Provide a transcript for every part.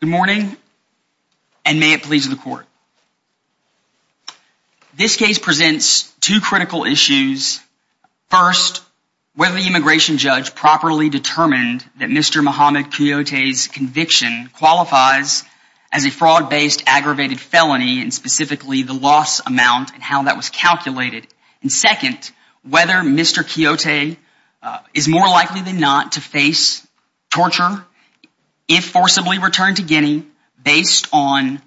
Good morning and may it please the court. This case presents two critical issues. First, whether the immigration judge properly determined that Mr. Mohamed Kouyate's conviction qualifies as a fraud-based aggravated felony and specifically the loss amount and how that was calculated. And second, whether Mr. Kouyate is more likely than not to face torture if forcibly returned to Guinea based on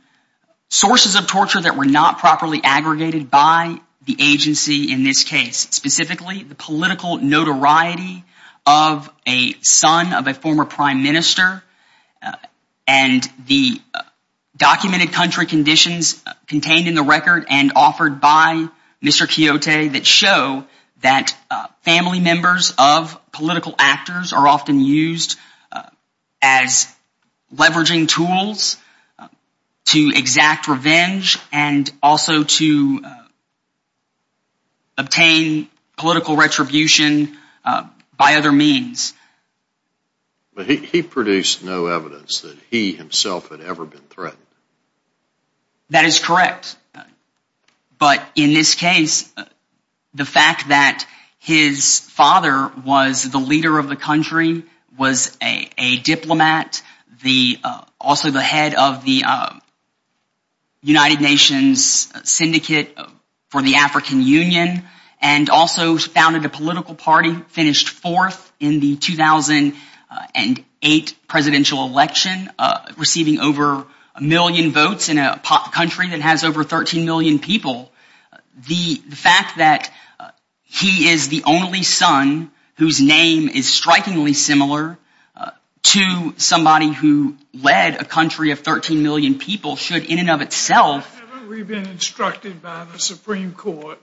sources of torture that were not properly aggregated by the agency in this case. Specifically, the political notoriety of a son of a former Prime Minister and the documented country conditions contained in the and offered by Mr. Kouyate that show that family members of political actors are often used as leveraging tools to exact revenge and also to obtain political retribution by other means. He produced no evidence that he himself had ever been threatened. That is correct, but in this case the fact that his father was the leader of the country, was a diplomat, also the head of the United Nations Syndicate for the African Union, and also founded a political party finished fourth in the 2008 presidential election, receiving over a million votes in a country that has over 13 million people, the fact that he is the only son whose name is strikingly similar to somebody who led a country of 13 million people should in and of itself... Hasn't we been instructed by the Supreme Court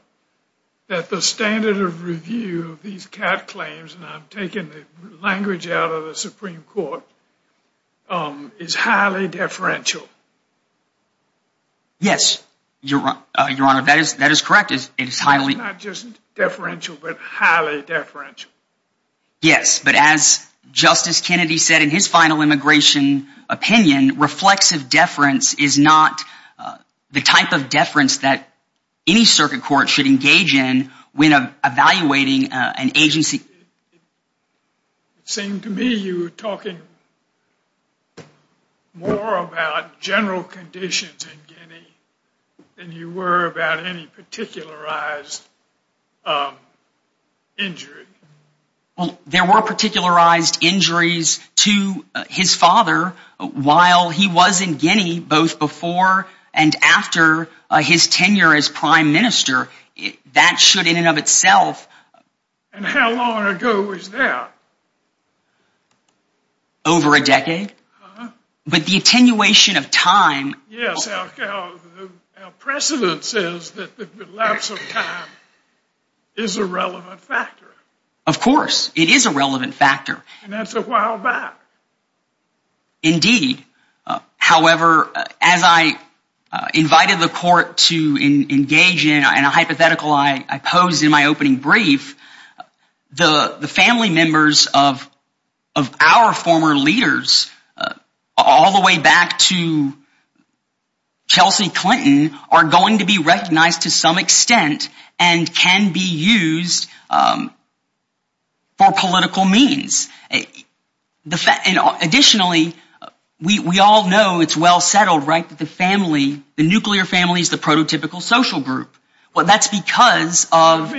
that the standard of review of these cat claims, and I'm taking the language out of the Supreme Court, is highly deferential? Yes, Your Honor, that is correct. It is highly... Not just deferential, but highly deferential. Yes, but as Justice Kennedy said in his final immigration opinion, reflexive deference is not the type of deference that any circuit court should engage in when evaluating an agency. It seemed to me you were talking more about general conditions in Guinea than you were about any particularized injury. Well, there were particularized injuries to his father while he was in Guinea, both before and after his tenure as prime minister. That should in and of itself... And how long ago was that? Over a decade. But the attenuation of time... Our precedent says that the lapse of time is a relevant factor. Of course, it is a relevant factor. And that's a while back. Indeed. However, as I invited the court to engage in a hypothetical I posed in my opening brief, the family members of our former leaders all the way back to Chelsea Clinton are going to be recognized to some extent and can be used for political means. Additionally, we all know it's well settled, right, that the family, the nuclear family is the prototypical social group. Well, that's because of...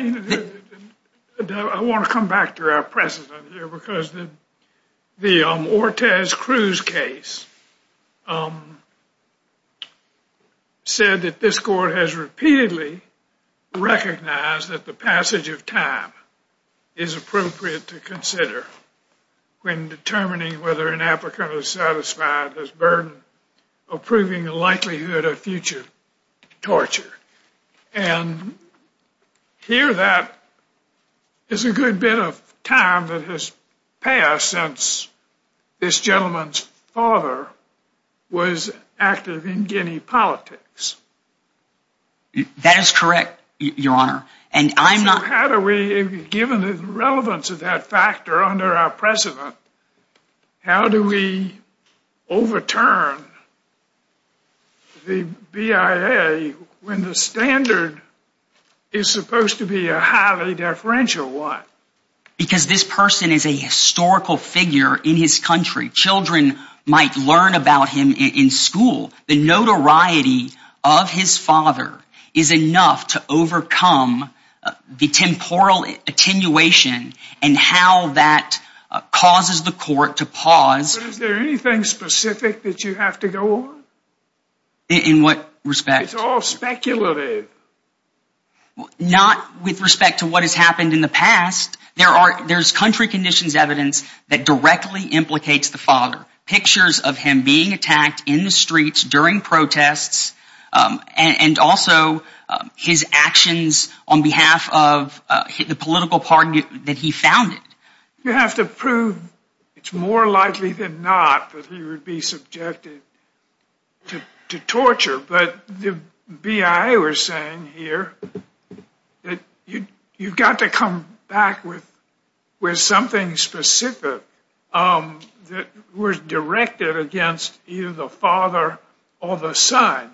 I want to come back to our precedent here because the Ortez-Cruz case said that this court has repeatedly recognized that the passage of time is appropriate to consider when determining whether an applicant is satisfied with the burden of proving the likelihood of future torture. And here that is a good bit of time that has passed since this gentleman's father was active in Guinea politics. That is correct, Your Honor. So how do we, given the relevance of that factor under our precedent, how do we overturn the BIA when the standard is supposed to be a highly deferential one? Because this person is a historical figure in his country. Children might learn about him in school. The notoriety of his father is enough to overcome the temporal attenuation and how that causes the court to pause. But is there anything specific that you have to go on? In what respect? It's all speculative. Not with respect to what has happened in the past. There's country conditions evidence that directly implicates the father. Pictures of him being attacked in the streets during protests and also his actions on behalf of the political party that he founded. You have to prove it's more likely than not that he would be subjected to torture. But the BIA was saying here that you've got to come back with something specific that was directed against either the father or the son.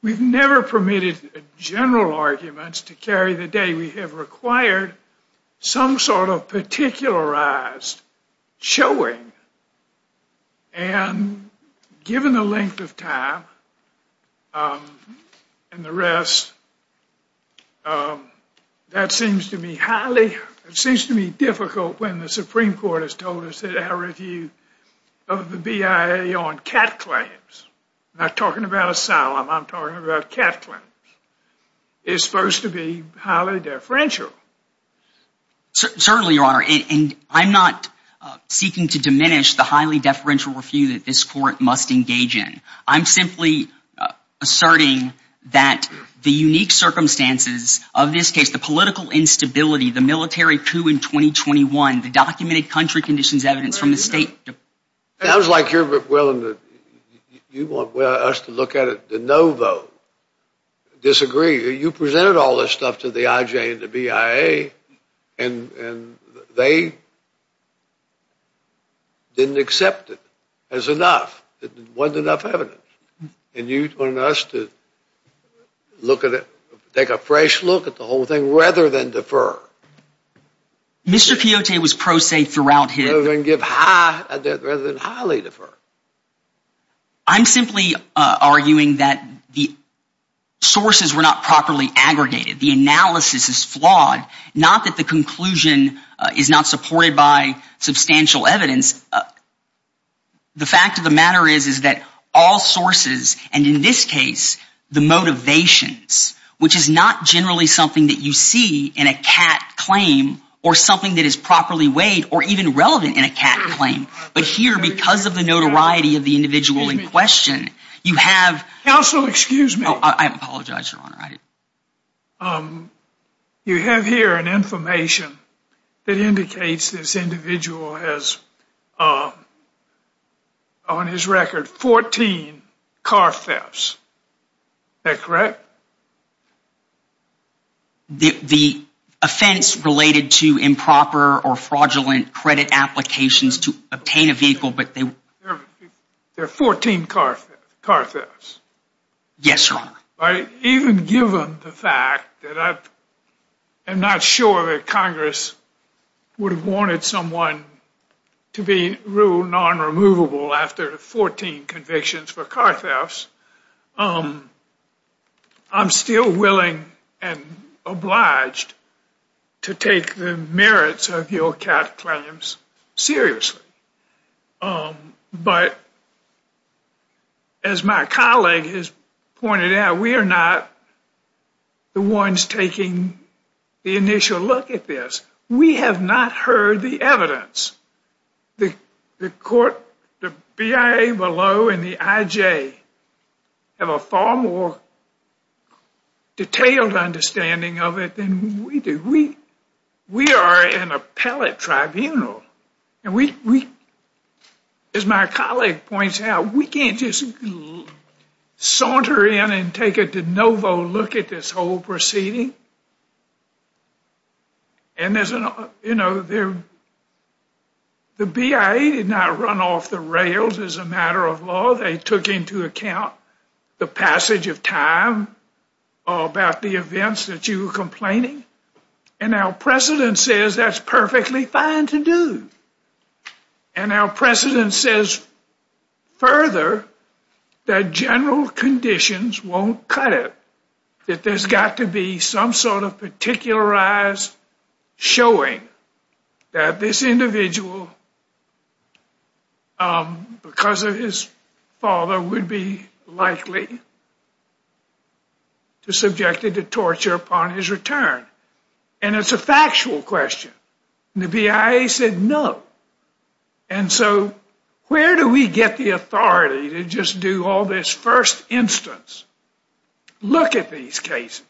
We've never permitted general arguments to carry the day. We have required some sort of particularized showing. And given the length of time and the rest, that seems to me difficult when the Supreme Court has told us that our review of the BIA on cat claims, not talking about asylum, I'm talking about cat claims, is supposed to be highly deferential. Certainly, Your Honor. And I'm not seeking to diminish the highly deferential review that this court must engage in. I'm simply asserting that the unique circumstances of this case, the political instability, the military coup in 2021, the documented country conditions evidence from the state... Sounds like you're willing to... you want us to look at it de novo, disagree. You presented all this stuff to the IJ and the BIA and they didn't accept it as enough. It wasn't enough evidence. And you want us to look at it, take a fresh look at the whole thing rather than defer. Mr. Quixote was pro se throughout his... Rather than highly defer. I'm simply arguing that the sources were not properly aggregated. The analysis is flawed. Not that the conclusion is not supported by substantial evidence. The fact of the matter is, is that all sources, and in this case, the motivations, which is not generally something that you see in a cat claim or something that is properly weighed or even relevant in a cat claim. But here, because of the notoriety of the individual in question, you have... Counsel, excuse me. I apologize, Your Honor. You have here an information that indicates this individual has, on his record, 14 car thefts. Is that correct? The offense related to improper or fraudulent credit applications to obtain a vehicle... There are 14 car thefts. Yes, Your Honor. Even given the fact that I'm not sure that Congress would have wanted someone to be ruled non-removable after 14 convictions for car thefts, I'm still willing and obliged to take the merits of your cat claims seriously. But as my colleague has pointed out, we are not the ones taking the initial look at this. We have not heard the evidence. The court, the BIA below, and the IJ have a far more detailed understanding of it than we do. We are an appellate tribunal. And we, as my colleague points out, we can't just saunter in and take a de novo look at this whole proceeding. And, you know, the BIA did not run off the rails as a matter of law. They took into account the passage of time about the events that you were complaining. And our precedent says that's perfectly fine to do. And our precedent says further that general conditions won't cut it. That there's got to be some sort of particularized showing that this individual, because of his father, would be likely subjected to torture upon his return. And it's a factual question. And the BIA said no. And so where do we get the authority to just do all this first instance, look at these cases?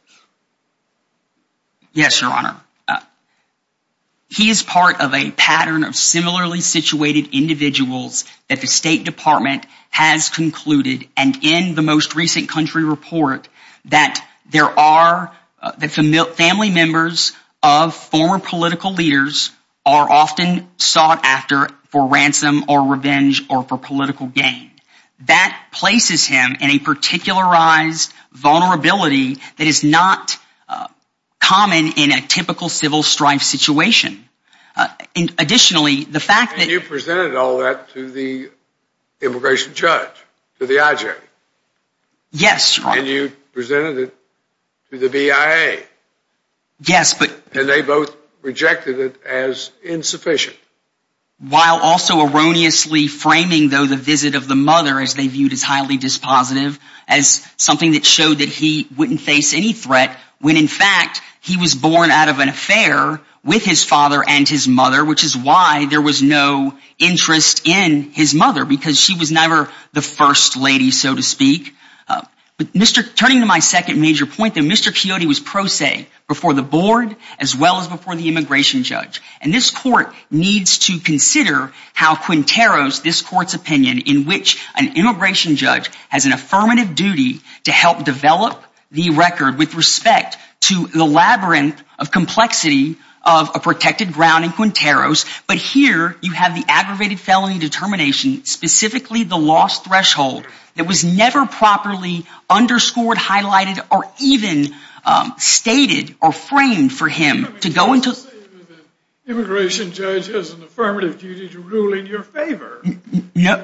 Yes, your honor. He is part of a pattern of similarly situated individuals that the State Department has concluded. And in the most recent country report that there are family members of former political leaders are often sought after for ransom or revenge or for political gain. That places him in a particularized vulnerability that is not common in a typical civil strife situation. Additionally, the fact that... And you presented all that to the immigration judge, to the IJ. Yes, your honor. And you presented it to the BIA. Yes, but... And they both rejected it as insufficient. While also erroneously framing, though, the visit of the mother as they viewed as highly dispositive, as something that showed that he wouldn't face any threat, when in fact he was born out of an affair with his father and his mother, which is why there was no interest in his mother, because she was never the first lady, so to speak. But turning to my second major point, that Mr. Quixote was pro se before the board as well as before the immigration judge. And this court needs to consider how Quinteros, this court's opinion, in which an immigration judge has an affirmative duty to help develop the record with respect to the labyrinth of complexity of a protected ground in Quinteros. But here you have the aggravated felony determination, specifically the loss threshold, that was never properly underscored, highlighted, or even stated or framed for him to go into... Immigration judge has an affirmative duty to rule in your favor.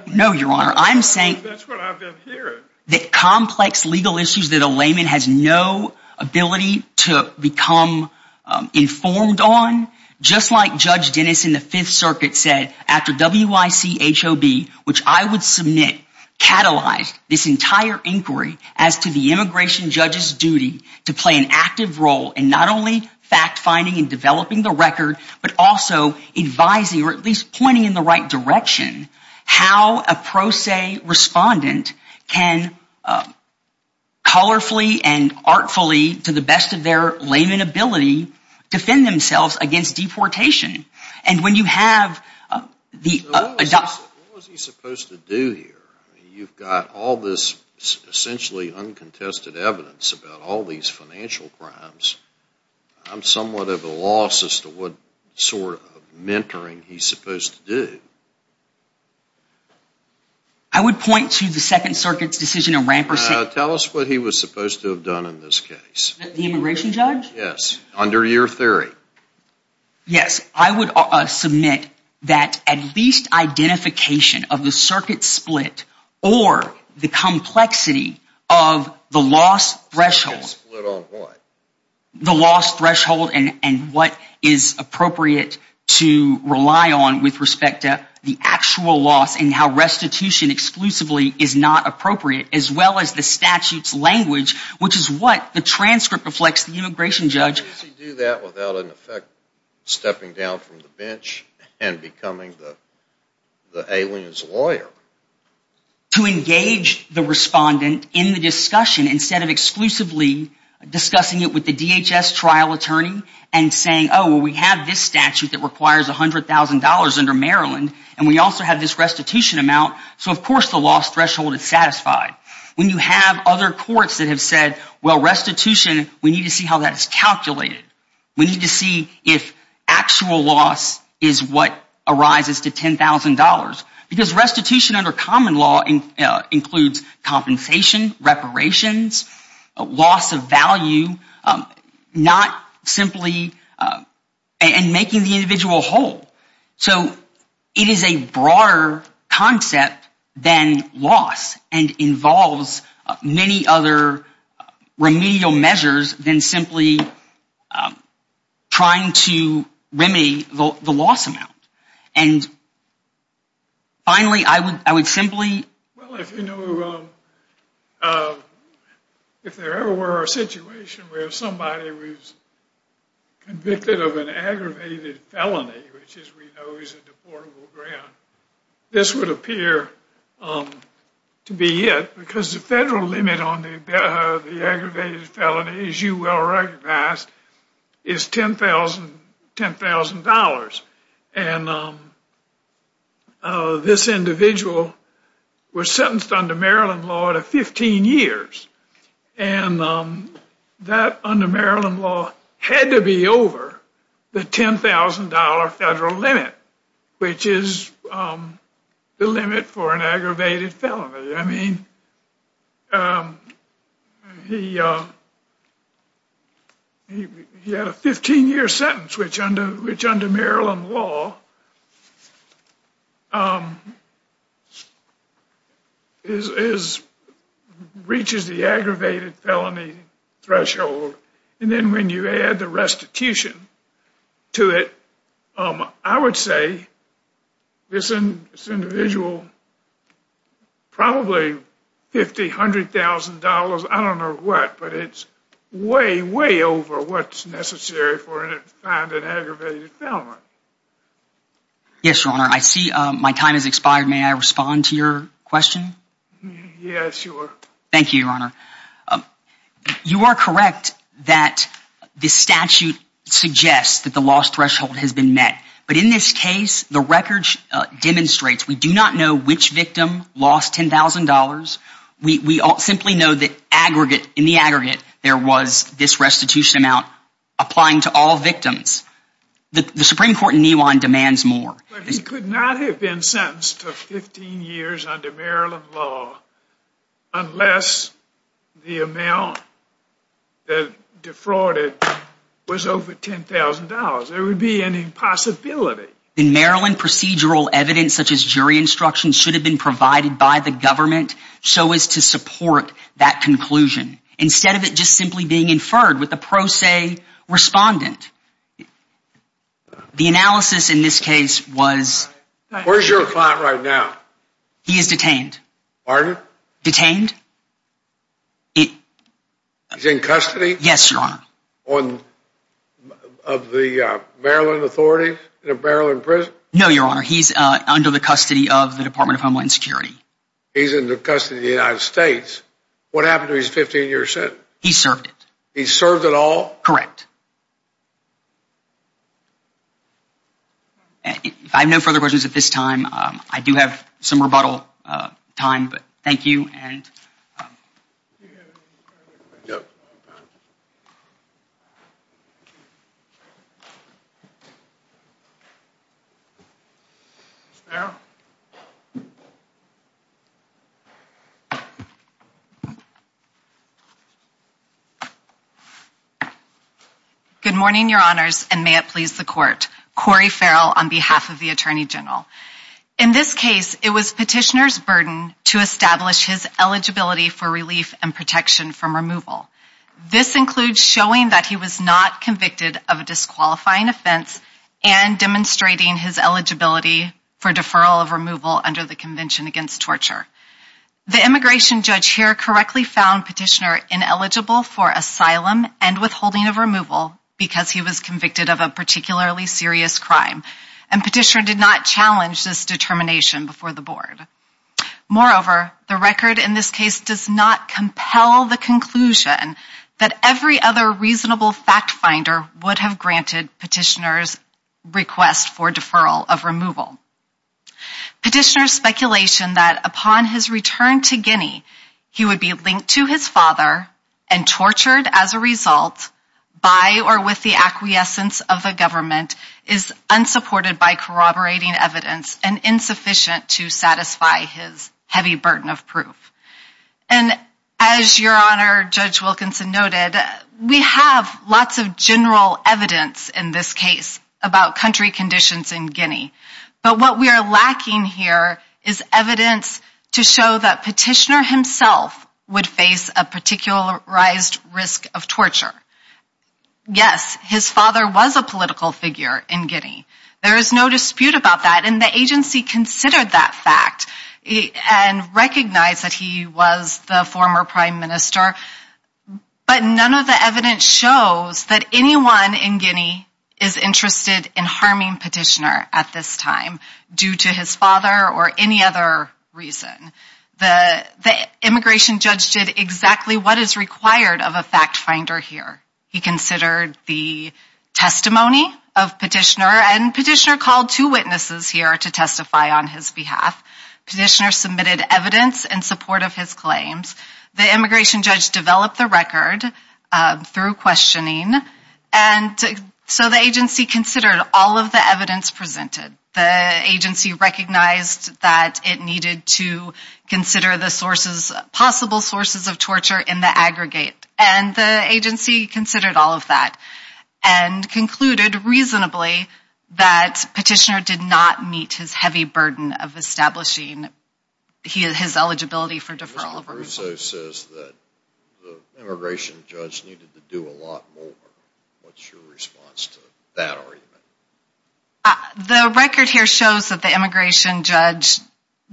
No, your honor. I'm saying... That's what I've been hearing. That complex legal issues that a layman has no ability to become informed on. Just like Judge Dennis in the Fifth Circuit said, after WYCHOB, which I would submit, catalyzed this entire inquiry as to the immigration judge's duty to play an active role in not only fact finding and developing the record, but also advising, or at least pointing in the right direction, how a pro se respondent can colorfully and artfully, to the best of their layman ability, defend themselves against deportation. And when you have the... What was he supposed to do here? You've got all this essentially uncontested evidence about all these financial crimes. I'm somewhat of a loss as to what sort of mentoring he's supposed to do. I would point to the Second Circuit's decision of... Tell us what he was supposed to have done in this case. The immigration judge? Yes, under your theory. Yes, I would submit that at least identification of the circuit split, or the complexity of the loss threshold... Split on what? The loss threshold and what is appropriate to rely on with respect to the actual loss and how restitution exclusively is not appropriate, as well as the statute's language, which is what the transcript reflects the immigration judge... How does he do that without in effect stepping down from the bench and becoming the alien's lawyer? To engage the respondent in the discussion instead of exclusively discussing it with the DHS trial attorney and saying, oh, we have this statute that requires $100,000 under Maryland, and we also have this restitution amount, so of course the loss threshold is satisfied. When you have other courts that have said, well, restitution, we need to see how that is calculated. We need to see if actual loss is what arises to $10,000. Because restitution under common law includes compensation, reparations, loss of value, and making the individual whole. So it is a broader concept than loss and involves many other remedial measures than simply trying to remedy the loss amount. If there ever were a situation where somebody was convicted of an aggravated felony, which as we know is a deportable grant, this would appear to be it. Because the federal limit on the aggravated felony, as you well recognize, is $10,000. And this individual was sentenced under Maryland law to 15 years. And that under Maryland law had to be over the $10,000 federal limit, which is the limit for an aggravated felony. I mean, he had a 15-year sentence, which under Maryland law reaches the aggravated felony threshold. And then when you add the restitution to it, I would say this individual probably $50,000, $100,000, I don't know what, but it's way, way over what's necessary for an aggravated felony. Yes, Your Honor. I see my time has expired. May I respond to your question? Yes, sure. Thank you, Your Honor. You are correct that this statute suggests that the loss threshold has been met. But in this case, the record demonstrates we do not know which victim lost $10,000. We simply know that in the aggregate there was this restitution amount applying to all victims. The Supreme Court in Newon demands more. But he could not have been sentenced to 15 years under Maryland law unless the amount that defrauded was over $10,000. There would be an impossibility. In Maryland, procedural evidence such as jury instruction should have been provided by the government so as to support that conclusion, instead of it just simply being inferred with a pro se respondent. The analysis in this case was... Where's your client right now? He is detained. Pardon? He's in custody? Yes, Your Honor. Of the Maryland authorities? The Maryland prison? No, Your Honor. He's under the custody of the Department of Homeland Security. He's under custody of the United States. What happened to his 15-year sentence? He served it. He served it all? Correct. If I have no further questions at this time, I do have some rebuttal time. But thank you. And... Yep. Ms. Farrell? Good morning, Your Honors, and may it please the Court. Cori Farrell on behalf of the Attorney General. In this case, it was Petitioner's burden to establish his eligibility for relief and protection from removal. This includes showing that he was not convicted of a disqualifying offense, and demonstrating his eligibility for deferral of removal under the Convention Against Torture. The immigration judge here correctly found Petitioner ineligible for asylum and withholding of removal because he was convicted of a particularly serious crime. And Petitioner did not challenge this determination before the Board. Moreover, the record in this case does not compel the conclusion that every other reasonable fact-finder would have granted Petitioner's request for deferral of removal. Petitioner's speculation that upon his return to Guinea, he would be linked to his father and tortured as a result by or with the acquiescence of the government is unsupported by corroborating evidence and insufficient to satisfy his heavy burden of proof. And as Your Honor, Judge Wilkinson noted, we have lots of general evidence in this case about country conditions in Guinea. But what we are lacking here is evidence to show that Petitioner himself would face a particularized risk of torture. Yes, his father was a political figure in Guinea. There is no dispute about that, and the agency considered that fact and recognized that he was the former Prime Minister. But none of the evidence shows that anyone in Guinea is interested in harming Petitioner at this time due to his father or any other reason. The immigration judge did exactly what is required of a fact-finder here. He considered the testimony of Petitioner, and Petitioner called two witnesses here to testify on his behalf. Petitioner submitted evidence in support of his claims. The immigration judge developed the record through questioning, and so the agency considered all of the evidence presented. The agency recognized that it needed to consider the possible sources of torture in the aggregate, and the agency considered all of that, and concluded reasonably that Petitioner did not meet his heavy burden of establishing his eligibility for deferral. Mr. Russo says that the immigration judge needed to do a lot more. What's your response to that argument? The record here shows that the immigration judge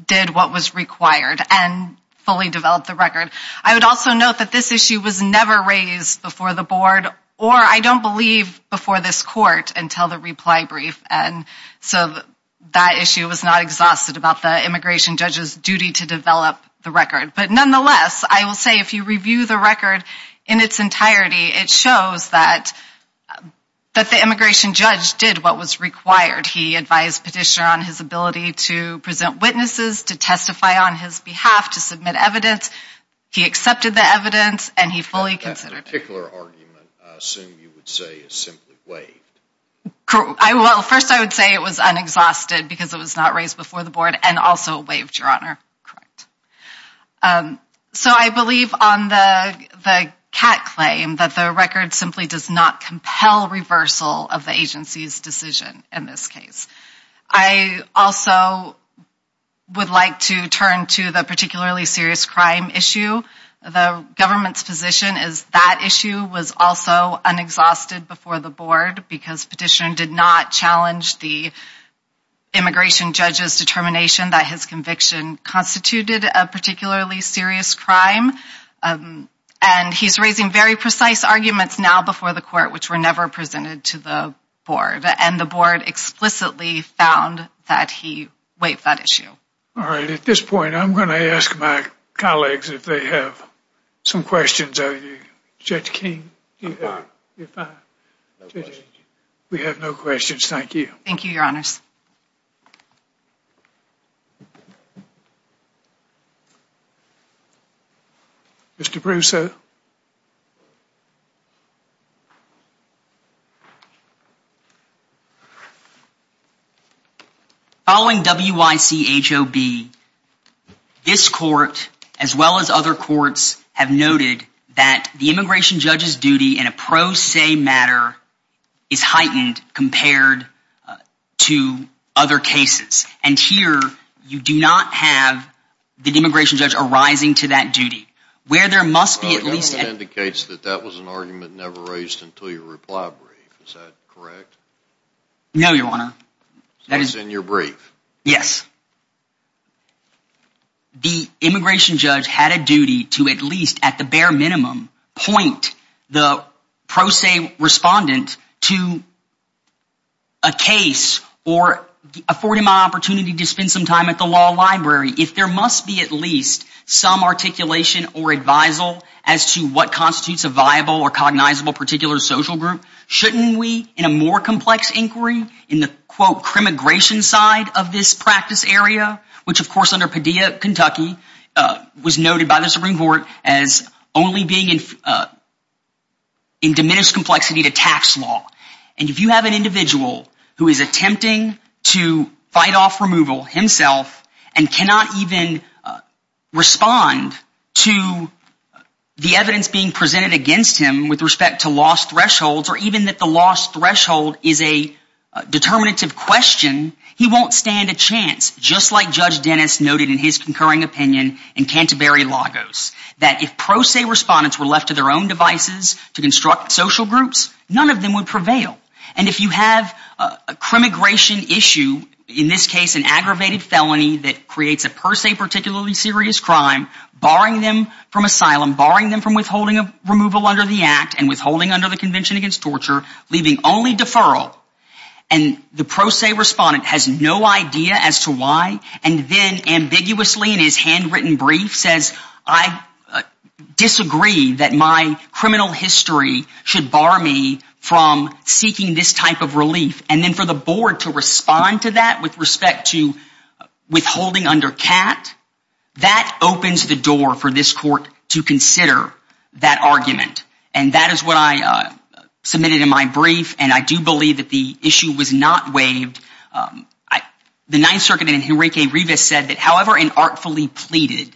did what was required and fully developed the record. I would also note that this issue was never raised before the board, or I don't believe, before this court until the reply brief, and so that issue was not exhausted about the immigration judge's duty to develop the record. But nonetheless, I will say if you review the record in its entirety, it shows that the immigration judge did what was required. He advised Petitioner on his ability to present witnesses, to testify on his behalf, to submit evidence. He accepted the evidence, and he fully considered it. That particular argument, I assume you would say, is simply waived. Well, first I would say it was unexhausted because it was not raised before the board, and also waived, Your Honor. Correct. So I believe on the Catt claim that the record simply does not compel reversal of the agency's decision in this case. I also would like to turn to the particularly serious crime issue. The government's position is that issue was also unexhausted before the board because Petitioner did not challenge the immigration judge's determination that his conviction constituted a particularly serious crime, and he's raising very precise arguments now before the court which were never presented to the board, and the board explicitly found that he waived that issue. All right. At this point, I'm going to ask my colleagues if they have some questions. Judge King, do you have any questions? We have no questions. Thank you. Thank you, Your Honors. Mr. Brousseau? Following WYCHOB, this court, as well as other courts, have noted that the immigration judge's duty in a pro se matter is heightened compared to other cases, and here you do not have the immigration judge arising to that duty. Well, that indicates that that was an argument never raised until your reply brief. Is that correct? No, Your Honor. That is in your brief. Yes. The immigration judge had a duty to at least, at the bare minimum, point the pro se respondent to a case or afford him an opportunity to spend some time at the law library if there must be at least some articulation or advisal as to what constitutes a viable or cognizable particular social group. Shouldn't we, in a more complex inquiry, in the, quote, crimmigration side of this practice area, which, of course, under Padilla, Kentucky, was noted by the Supreme Court as only being in diminished complexity to tax law, and if you have an individual who is attempting to fight off removal himself and cannot even respond to the evidence being presented against him with respect to lost thresholds or even that the lost threshold is a determinative question, he won't stand a chance, just like Judge Dennis noted in his concurring opinion in Canterbury Lagos, that if pro se respondents were left to their own devices to construct social groups, none of them would prevail. And if you have a crimmigration issue, in this case an aggravated felony that creates a per se particularly serious crime, barring them from asylum, barring them from withholding removal under the Act and withholding under the Convention Against Torture, leaving only deferral and the pro se respondent has no idea as to why and then ambiguously in his handwritten brief says, I disagree that my criminal history should bar me from seeking this type of relief, and then for the Board to respond to that with respect to withholding under CAT, that opens the door for this Court to consider that argument. And that is what I submitted in my brief, and I do believe that the issue was not waived. The Ninth Circuit in Henrique Rivas said that however inartfully pleaded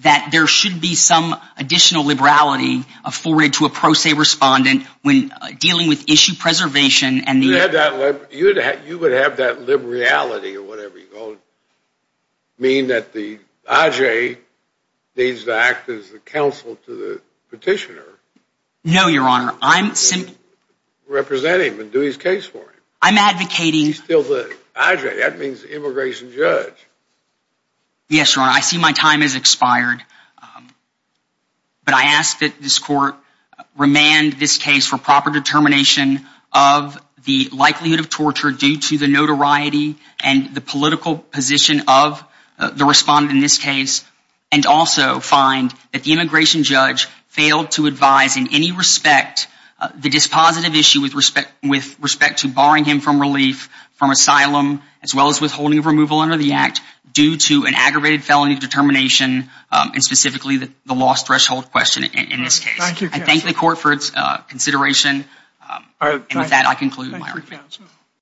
that there should be some additional liberality afforded to a pro se respondent when dealing with issue preservation and the You would have that liberality or whatever you call it, mean that the IJ needs to act as the counsel to the petitioner. No, Your Honor, I'm simply Represent him and do his case for him. I'm advocating He's still the IJ, that means immigration judge. Yes, Your Honor, I see my time has expired. But I ask that this Court remand this case for proper determination of the likelihood of torture due to the notoriety and the political position of the respondent in this case and also find that the immigration judge failed to advise in any respect the dispositive issue with respect to barring him from relief from asylum as well as withholding of removal under the act due to an aggravated felony determination and specifically the loss threshold question in this case. I thank the Court for its consideration. And with that, I conclude my argument.